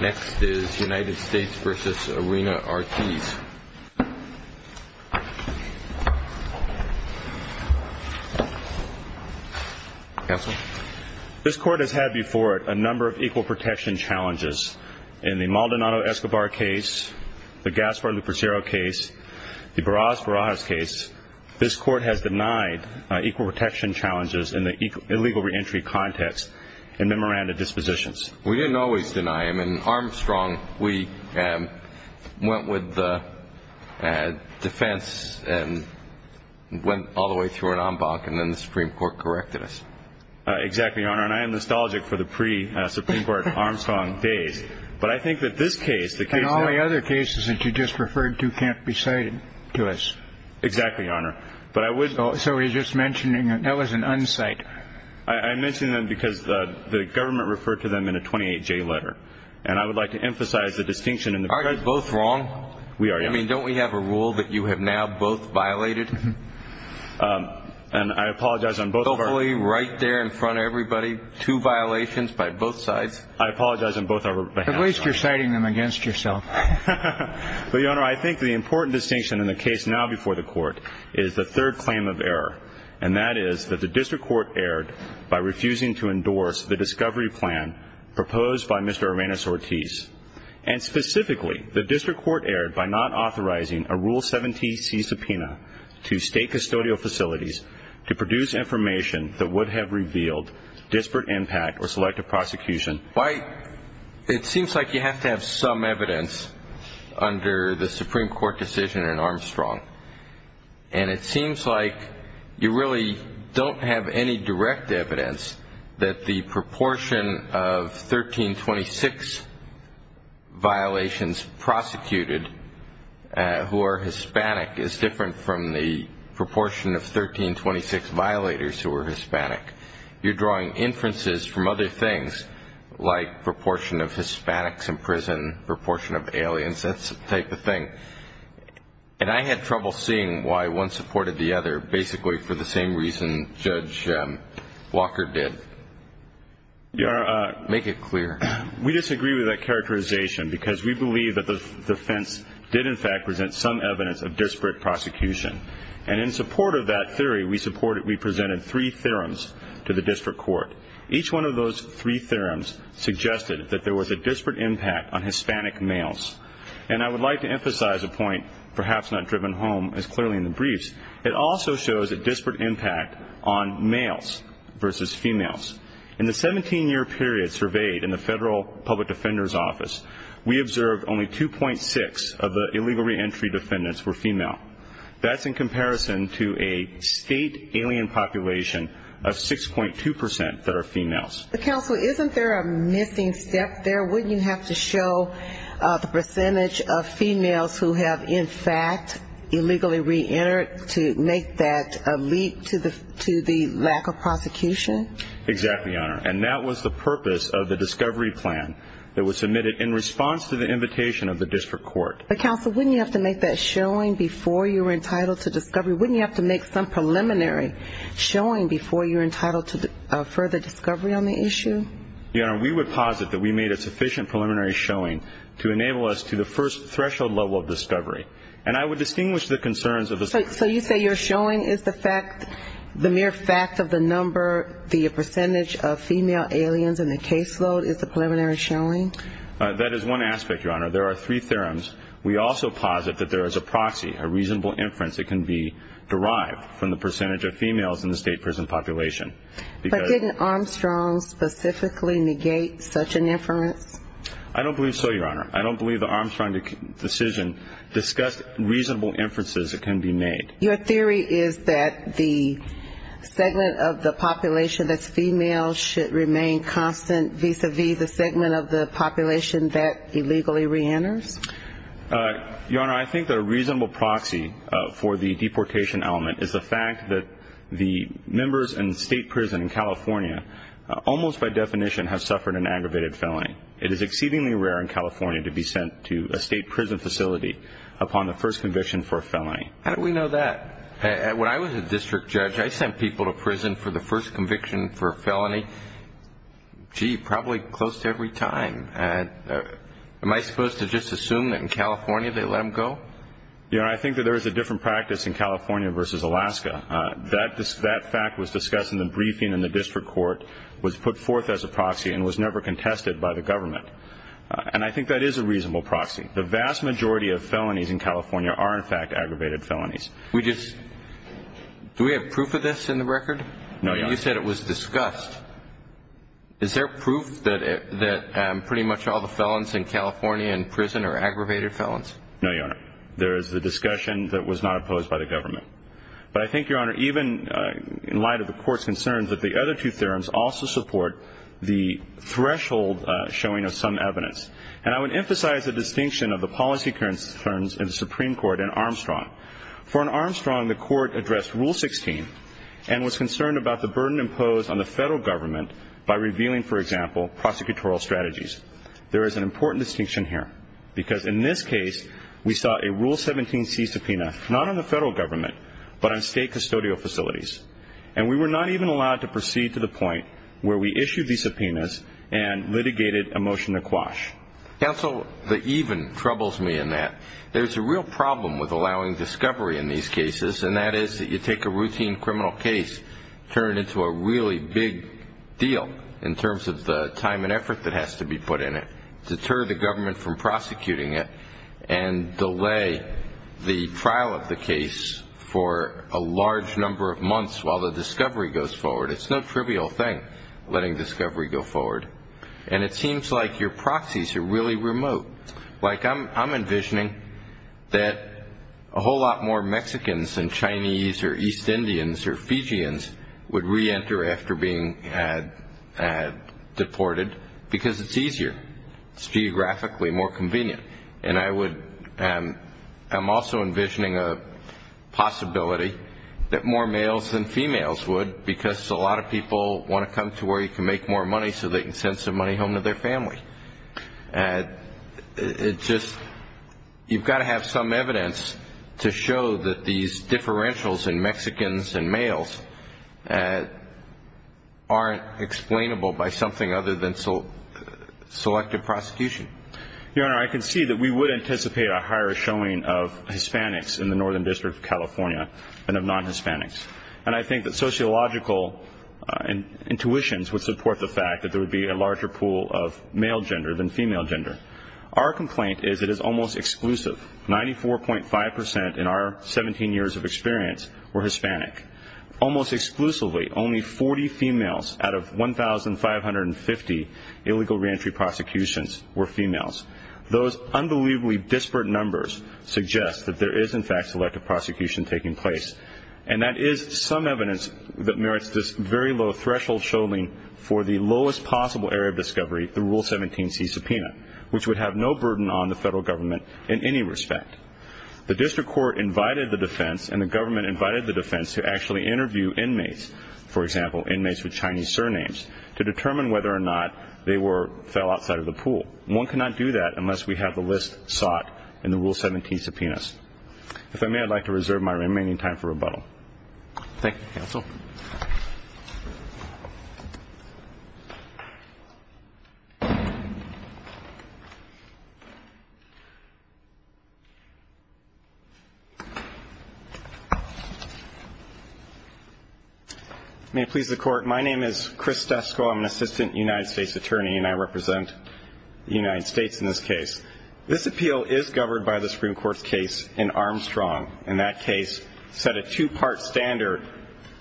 This Court has had before it a number of equal protection challenges. In the Maldonado-Escobar case, the Gaspar-Lupercero case, the Barajas-Barajas case, this Court has denied equal protection challenges in the illegal reentry context and memoranda dispositions. We didn't always deny them. In Armstrong, we went with the defense and went all the way through an en banc, and then the Supreme Court corrected us. Exactly, Your Honor. And I am nostalgic for the pre-Supreme Court Armstrong days. But I think that this case, the case that- And all the other cases that you just referred to can't be cited to us. Exactly, Your Honor. But I would- So you're just mentioning- that was an unsight. I'm mentioning them because the government referred to them in a 28-J letter. And I would like to emphasize the distinction in the- Aren't you both wrong? We are, Your Honor. I mean, don't we have a rule that you have now both violated? And I apologize on both of our- Hopefully right there in front of everybody, two violations by both sides. I apologize on both our behalf. At least you're citing them against yourself. But, Your Honor, I think the important distinction in the case now before the Court is the third District Court erred by refusing to endorse the discovery plan proposed by Mr. Arenas-Ortiz. And specifically, the District Court erred by not authorizing a Rule 70C subpoena to state custodial facilities to produce information that would have revealed disparate impact or selective prosecution. It seems like you have to have some evidence under the Supreme Court decision in Armstrong. And it seems like you really don't have any direct evidence that the proportion of 1326 violations prosecuted who are Hispanic is different from the proportion of 1326 violators who are Hispanic. You're drawing inferences from other things like proportion of Hispanics in prison, proportion of aliens. That's the type of thing. And I had trouble seeing why one supported the other basically for the same reason Judge Walker did. Make it clear. We disagree with that characterization because we believe that the defense did in fact present some evidence of disparate prosecution. And in support of that theory, we presented three theorems to the District Court. Each one of those three theorems suggested that there was a disparate impact on Hispanic males. And I would like to emphasize a point perhaps not driven home as clearly in the briefs. It also shows a disparate impact on males versus females. In the 17-year period surveyed in the Federal Public Defender's Office, we observed only 2.6 of the illegal reentry defendants were female. That's in comparison to a state alien population of 6.2 percent that are females. Counsel, isn't there a missing step there? Wouldn't you have to show the percentage of females who have in fact illegally reentered to make that lead to the lack of prosecution? Exactly, Your Honor. And that was the purpose of the discovery plan that was submitted in response to the invitation of the District Court. But Counsel, wouldn't you have to make that showing before you were entitled to discovery? Wouldn't you have to make some preliminary showing before you were entitled to further discovery on the issue? Your Honor, we would posit that we made a sufficient preliminary showing to enable us to the first threshold level of discovery. And I would distinguish the concerns of the... So you say your showing is the fact, the mere fact of the number, the percentage of female aliens in the caseload is the preliminary showing? That is one aspect, Your Honor. There are three theorems. We also posit that there is a proxy, a reasonable inference that can be derived from the percentage of females in the state prison population. But didn't Armstrong specifically negate such an inference? I don't believe so, Your Honor. I don't believe the Armstrong decision discussed reasonable inferences that can be made. Your theory is that the segment of the population that's female should remain constant vis-a-vis the segment of the population that illegally reenters? Your Honor, I think that a reasonable proxy for the deportation element is the fact that the members in the state prison in California almost by definition have suffered an aggravated felony. It is exceedingly rare in California to be sent to a state prison facility upon the first conviction for a felony. How do we know that? When I was a district judge, I sent people to prison for the first conviction for a felony. Gee, probably close to every time. Am I supposed to just assume that in California they let them go? Your Honor, I think that there is a different practice in California versus Alaska. That fact was discussed in the briefing in the district court, was put forth as a proxy, and was never contested by the government. And I think that is a reasonable proxy. The vast majority of felonies in California are, in fact, aggravated felonies. Do we have proof of this in the record? No, Your Honor. You said it was discussed. Is there proof that pretty much all the felons in California in prison are aggravated felons? No, Your Honor. There is a discussion that was not opposed by the government. But I think, Your Honor, even in light of the court's concerns, that the other two theorems also support the threshold showing of some evidence. And I would emphasize the distinction of the policy concerns in the Supreme Court and Armstrong. For Armstrong, the court addressed Rule 16 and was concerned about the burden imposed on the federal government by revealing, for example, prosecutorial strategies. There is an important distinction here, because in this case, we saw a Rule 17C subpoena, not on the federal government, but on state custodial facilities. And we were not even allowed to proceed to the point where we issued these subpoenas and litigated a motion to quash. Counsel, the even troubles me in that. There's a real problem with allowing discovery in these cases, and that is that you take a routine criminal case, turn it into a really big deal, in terms of the time and effort that has to be put in it, deter the government from prosecuting it, and delay the trial of the case for a large number of months while the discovery goes forward. It's no trivial thing, letting discovery go forward. And it seems like your proxies are really remote. Like I'm envisioning that a whole lot more Mexicans than Chinese or East Indians or Fijians would reenter after being deported, because it's easier, it's geographically more convenient. And I would, I'm also envisioning a possibility that more males than females would, because a lot of people want to come to where you can make more money so they can send some money home to their family. It's just, you've got to have some evidence to show that these differentials in Mexicans and Fijians are the ones that are going to get selected prosecution. Your Honor, I can see that we would anticipate a higher showing of Hispanics in the Northern District of California than of non-Hispanics. And I think that sociological intuitions would support the fact that there would be a larger pool of male gender than female gender. Our complaint is it is almost exclusive. 94.5% in our 17 years of experience were Hispanic. Almost exclusively, only 40 females out of 1,550 illegal reentry prosecutions were females. Those unbelievably disparate numbers suggest that there is, in fact, selective prosecution taking place. And that is some evidence that merits this very low threshold showing for the lowest possible area of discovery, the Rule 17C subpoena, which would have no burden on the federal government in any respect. The district court invited the defense and the government invited the defense to actually interview inmates. For example, inmates with Chinese surnames, to determine whether or not they fell outside of the pool. One cannot do that unless we have the list sought in the Rule 17 subpoenas. If I may, I'd like to reserve my remaining time for rebuttal. Thank you, counsel. May it please the court, my name is Chris Dusko, I'm an assistant United States attorney, and I represent the United States in this case. This appeal is governed by the Supreme Court's case in Armstrong. In that case, set a two-part standard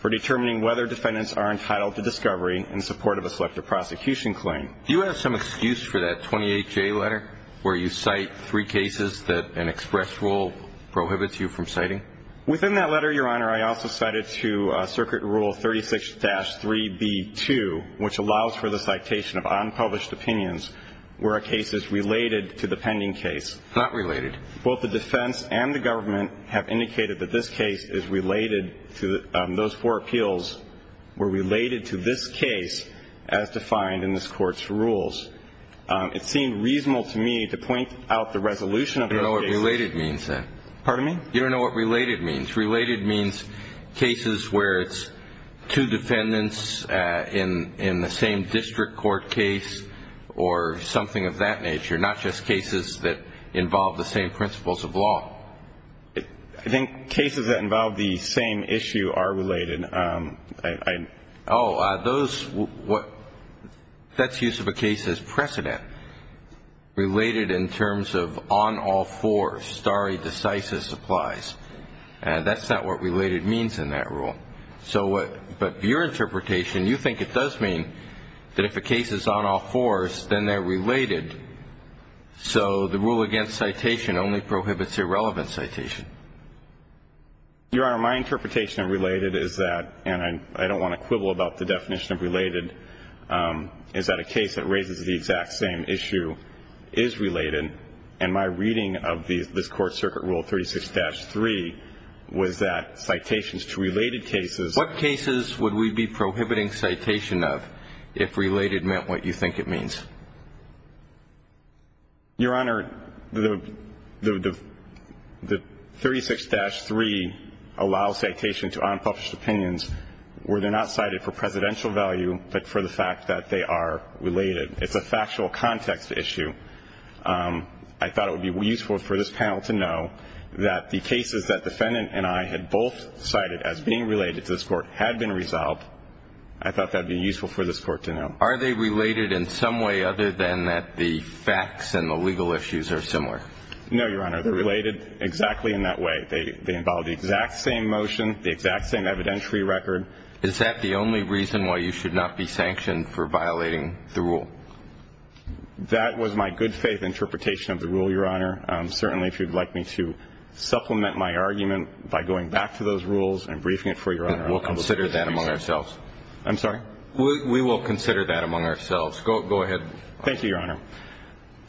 for determining whether defendants are entitled to discovery in support of a selective prosecution claim. Do you have some excuse for that 28-J letter, where you cite three cases that an express rule prohibits you from citing? Within that letter, your honor, I also cited to circuit rule 36-3B2, which allows for the citation of unpublished opinions, where a case is related to the pending case. Not related. Both the defense and the government have indicated that this case is related to, those four appeals were related to this case as defined in this court's rules. It seemed reasonable to me to point out the resolution of the case. I don't know what related means then. Pardon me? You don't know what related means? Related means cases where it's two defendants in the same district court case, or something of that nature, not just cases that involve the same principles of law. I think cases that involve the same issue are related. Oh, those, that's use of a case as precedent. Related in terms of on all fours, stare decisis applies. And that's not what related means in that rule. So what, but your interpretation, you think it does mean that if a case is on all fours, then they're related, so the rule against citation only prohibits irrelevant citation. Your honor, my interpretation of related is that, and I don't want to quibble about the definition of related, is that a case that raises the exact same issue is related. And my reading of this court circuit rule 36-3 was that citations to related cases. What cases would we be prohibiting citation of if related meant what you think it means? Your honor, the 36-3 allows citation to unpublished opinions where they're not cited for presidential value, but for the fact that they are related. It's a factual context issue. I thought it would be useful for this panel to know that the cases that defendant and I had both cited as being related to this court had been resolved. I thought that'd be useful for this court to know. Are they related in some way other than that the facts and the legal issues are similar? No, your honor, they're related exactly in that way. They involve the exact same motion, the exact same evidentiary record. Is that the only reason why you should not be sanctioned for violating the rule? That was my good faith interpretation of the rule, your honor. Certainly, if you'd like me to supplement my argument by going back to those rules and briefing it for your honor. We'll consider that among ourselves. I'm sorry? We will consider that among ourselves. Go ahead. Thank you, your honor.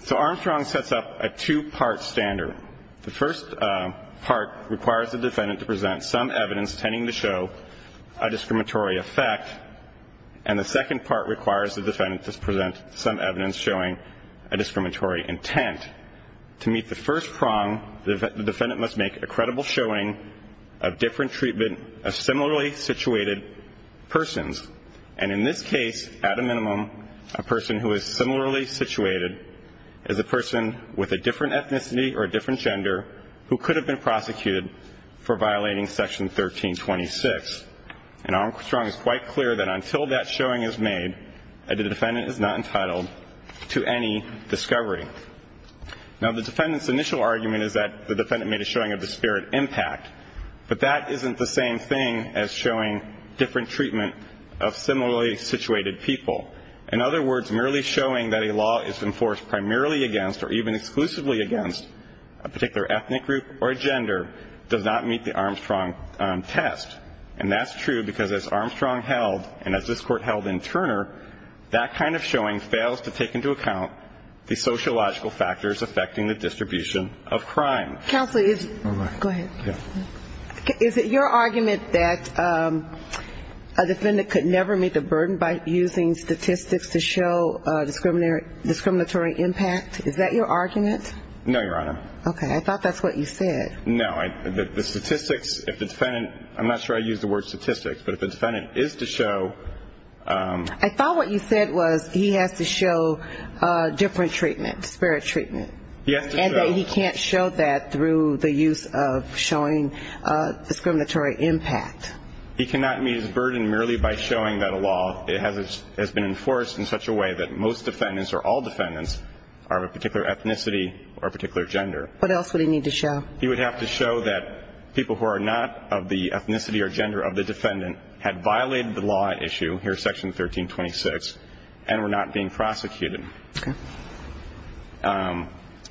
So Armstrong sets up a two part standard. The first part requires the defendant to present some evidence tending to show a discriminatory effect, and the second part requires the defendant to present some evidence showing a discriminatory intent. To meet the first prong, the defendant must make a credible showing of different treatment of similarly situated persons. And in this case, at a minimum, a person who is similarly situated is a person with a different ethnicity or a different gender who could have been prosecuted for violating section 1326. And Armstrong is quite clear that until that showing is made, that the defendant is not entitled to any discovery. Now the defendant's initial argument is that the defendant made a showing of disparate impact, but that isn't the same thing as showing different treatment of similarly situated people. In other words, merely showing that a law is enforced primarily against, or even exclusively against, a particular ethnic group or gender does not meet the Armstrong test. And that's true, because as Armstrong held, and as this court held in Turner, that kind of showing fails to take into account the sociological factors affecting the distribution of crime. Counsel, is it your argument that a defendant could never meet the burden by using statistics to show discriminatory impact? Is that your argument? No, Your Honor. Okay, I thought that's what you said. No, the statistics, if the defendant, I'm not sure I used the word statistics, but if the defendant is to show... I thought what you said was he has to show different treatment, disparate treatment. He has to show. And that he can't show that through the use of showing discriminatory impact. He cannot meet his burden merely by showing that a law has been enforced in such a way that most defendants, or all defendants, are of a particular ethnicity or a particular gender. What else would he need to show? He would have to show that people who are not of the ethnicity or gender of the defendant had violated the law at issue, here's section 1326, and were not being prosecuted.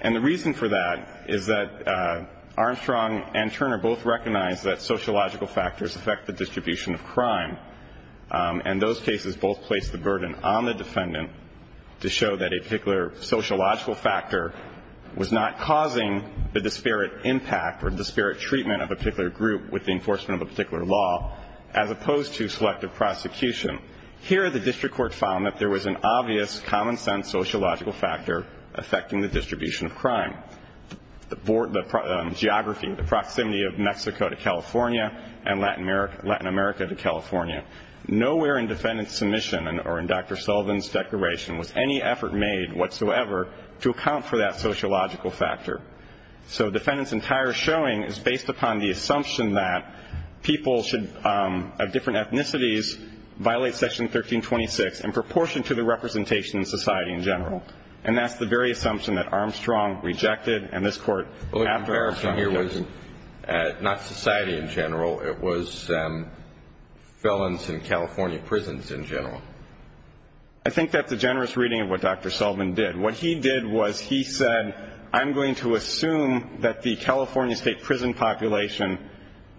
And the reason for that is that Armstrong and Turner both recognize that sociological factors affect the distribution of crime. And those cases both placed the burden on the defendant to show that a particular sociological factor was not causing the disparate impact or disparate treatment of a particular group with the enforcement of a particular law, as opposed to selective prosecution. Here the district court found that there was an obvious common sense sociological factor affecting the distribution of crime. The geography, the proximity of Mexico to California and Latin America to California. Nowhere in defendant's submission or in Dr. Sullivan's declaration was any effort made whatsoever to account for that sociological factor. So defendant's entire showing is based upon the assumption that people of different ethnicities violate section 1326 in proportion to the representation in society in general. And that's the very assumption that Armstrong rejected, and this court, after Armstrong. Not society in general, it was felons in California prisons in general. I think that's a generous reading of what Dr. Sullivan did. What he did was he said, I'm going to assume that the California state prison population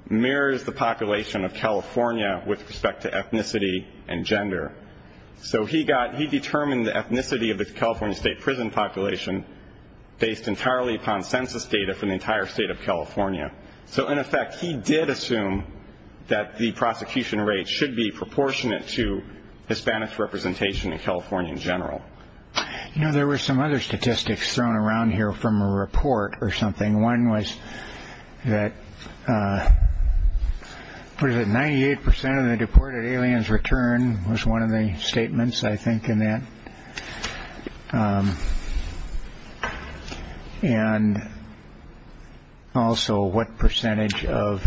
mirrors the population of California with respect to ethnicity and gender. So he determined the ethnicity of the California state prison population based entirely upon census data from the entire state of California. So in effect, he did assume that the prosecution rate should be proportionate to Hispanic representation in California in general. You know, there were some other statistics thrown around here from a report or something. One was that, what is it, 98% of the deported aliens return was one of the statements, I think, in that. And also, what percentage of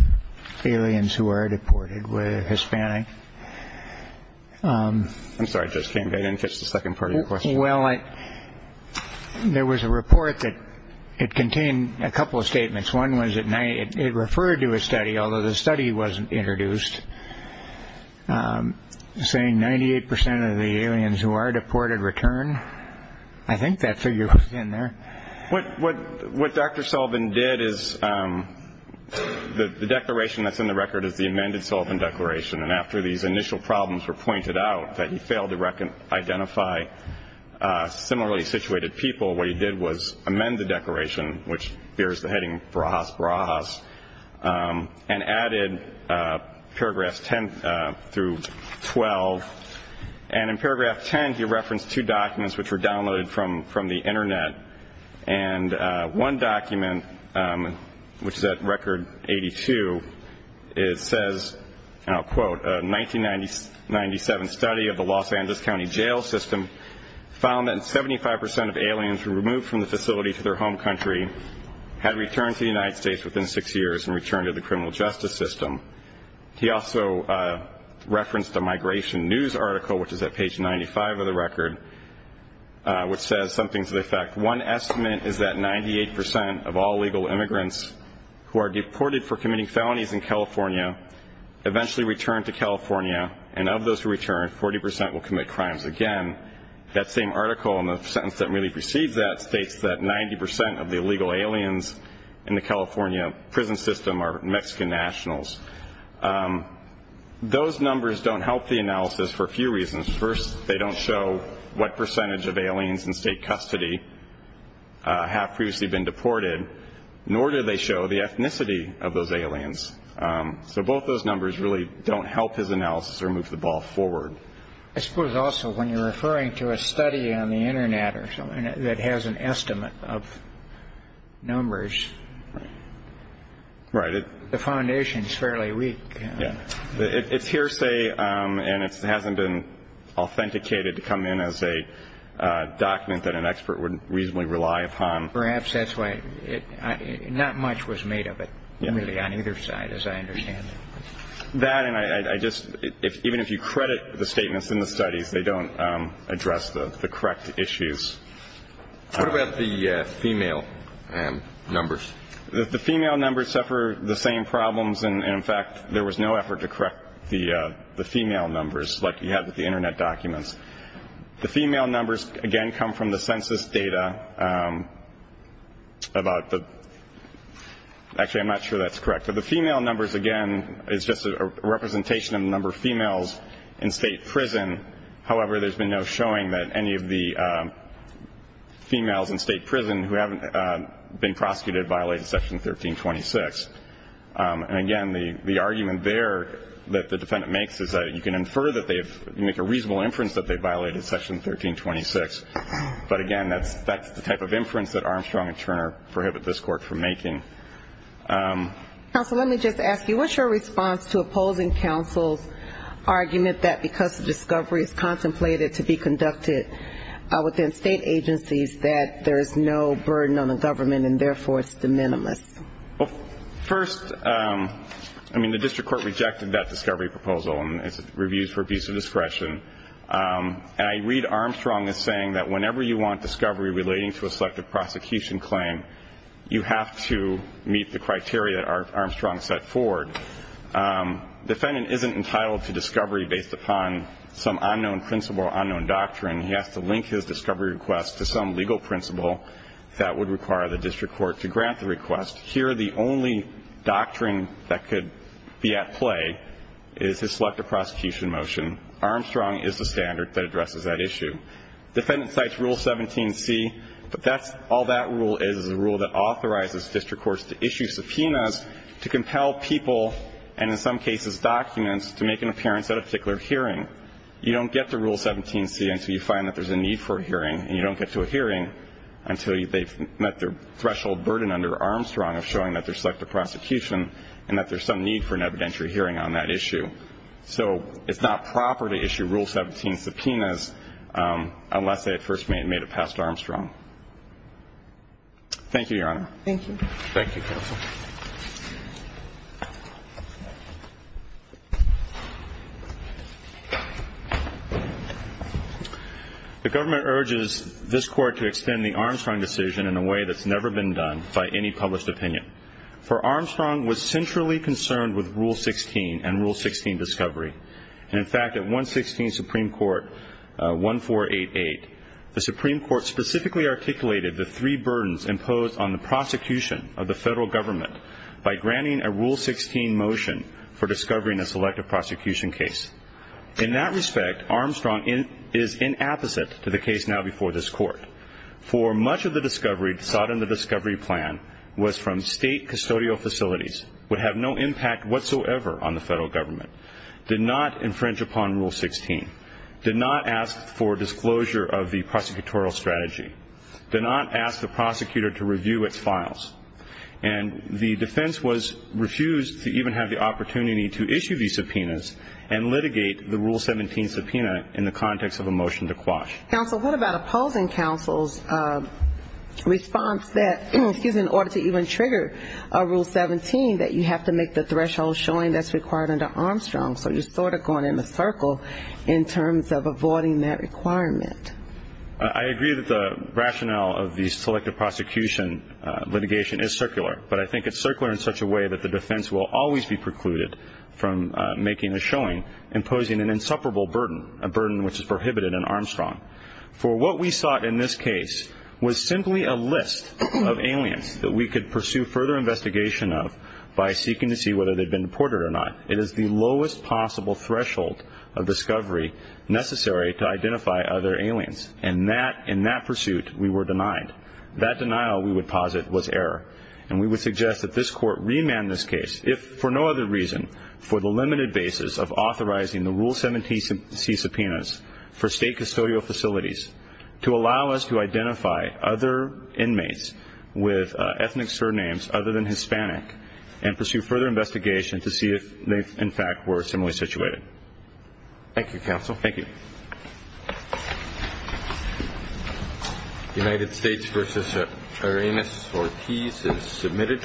aliens who are deported were Hispanic? I'm sorry, I just can't get into the second part of your question. Well, there was a report that it contained a couple of statements. One was it referred to a study, although the study wasn't introduced. It was saying 98% of the aliens who are deported return. I think that figure was in there. What Dr. Sullivan did is, the declaration that's in the record is the amended Sullivan declaration. And after these initial problems were pointed out, that he failed to identify similarly situated people, what he did was amend the declaration, which bears the heading, Brahas, Brahas, and added paragraphs 10 through 12. And in paragraph 10, he referenced two documents which were downloaded from the internet. And one document, which is at record 82, it says, and I'll quote, a 1997 study of the Los Angeles County jail system found that 75% of aliens who were moved from the facility to their home country had returned to the United States within six years and returned to the criminal justice system. He also referenced a migration news article, which is at page 95 of the record, which says something to the effect, one estimate is that 98% of all illegal immigrants who are deported for committing felonies in California eventually return to California. And of those who return, 40% will commit crimes again. That same article, and the sentence that really precedes that, states that 90% of the illegal aliens in the California prison system are Mexican nationals. Those numbers don't help the analysis for a few reasons. First, they don't show what percentage of aliens in state custody have previously been deported, nor do they show the ethnicity of those aliens. So both those numbers really don't help his analysis or move the ball forward. I suppose also when you're referring to a study on the internet or something that has an estimate of numbers. Right. The foundation is fairly weak. Yeah, it's hearsay, and it hasn't been authenticated to come in as a document that an expert would reasonably rely upon. Perhaps that's why not much was made of it, really, on either side, as I understand it. That, and I just, even if you credit the statements in the studies, they don't address the correct issues. What about the female numbers? The female numbers suffer the same problems. And in fact, there was no effort to correct the female numbers like you had with the internet documents. The female numbers, again, come from the census data about the, actually, I'm not sure that's correct. But the female numbers, again, is just a representation of the number of females in state prison. However, there's been no showing that any of the females in state prison who haven't been prosecuted violated section 1326. And again, the argument there that the defendant makes is that you can infer that they've, you make a reasonable inference that they violated section 1326. But again, that's the type of inference that Armstrong and Turner prohibit this court from making. Counsel, let me just ask you, what's your response to opposing counsel's argument that because the discovery is contemplated to be conducted within state agencies, that there is no burden on the government, and therefore, it's de minimis? Well, first, I mean, the district court rejected that discovery proposal, and it's reviewed for abuse of discretion. And I read Armstrong as saying that whenever you want discovery relating to a selective prosecution claim, you have to meet the criteria that Armstrong set forward. Defendant isn't entitled to discovery based upon some unknown principle or unknown doctrine. He has to link his discovery request to some legal principle that would require the district court to grant the request. Here, the only doctrine that could be at play is his selective prosecution motion. Armstrong is the standard that addresses that issue. Defendant cites Rule 17C, but all that rule is is a rule that authorizes district courts to issue subpoenas to compel people, and in some cases, documents, to make an appearance at a particular hearing. You don't get to Rule 17C until you find that there's a need for a hearing, and you don't get to a hearing until they've met their threshold burden under Armstrong of showing that there's selective prosecution and that there's some need for an evidentiary hearing on that issue. So it's not proper to issue Rule 17 subpoenas unless they had first made a pass to Armstrong. Thank you, Your Honor. Thank you. Thank you, Counsel. The government urges this court to extend the Armstrong decision in a way that's never been done by any published opinion. For Armstrong was centrally concerned with Rule 16 and Rule 16 discovery. And in fact, at 116 Supreme Court, 1488, the Supreme Court specifically articulated the three burdens imposed on the prosecution of the federal government by granting a Rule 16 motion for discovering a selective prosecution case. In that respect, Armstrong is inapposite to the case now before this court. For much of the discovery sought in the discovery plan was from state custodial facilities, would have no impact whatsoever on the federal government, did not infringe upon Rule 16, did not ask for disclosure of the prosecutorial strategy, did not ask the prosecutor to review its files. And the defense was refused to even have the opportunity to issue these subpoenas and litigate the Rule 17 subpoena in the context of a motion to quash. Counsel, what about opposing counsel's response that, excuse me, in order to even trigger Rule 17 that you have to make the threshold showing that's required under Armstrong? So you're sort of going in the circle in terms of avoiding that requirement. I agree that the rationale of the selective prosecution litigation is circular. But I think it's circular in such a way that the defense will always be precluded from making a showing imposing an insupportable burden, a burden which is prohibited in Armstrong. For what we sought in this case was simply a list of aliens that we could pursue further investigation of by seeking to see whether they'd been deported or not. It is the lowest possible threshold of discovery necessary to identify other aliens. And in that pursuit, we were denied. That denial, we would posit, was error. And we would suggest that this court remand this case, if for no other reason, for the limited basis of authorizing the Rule 17C subpoenas for state custodial facilities to allow us to identify other inmates with ethnic surnames other than Hispanic and pursue further investigation to see if they, in fact, were similarly situated. Thank you, Counsel. Thank you. United States v. Uranus Ortiz is submitted.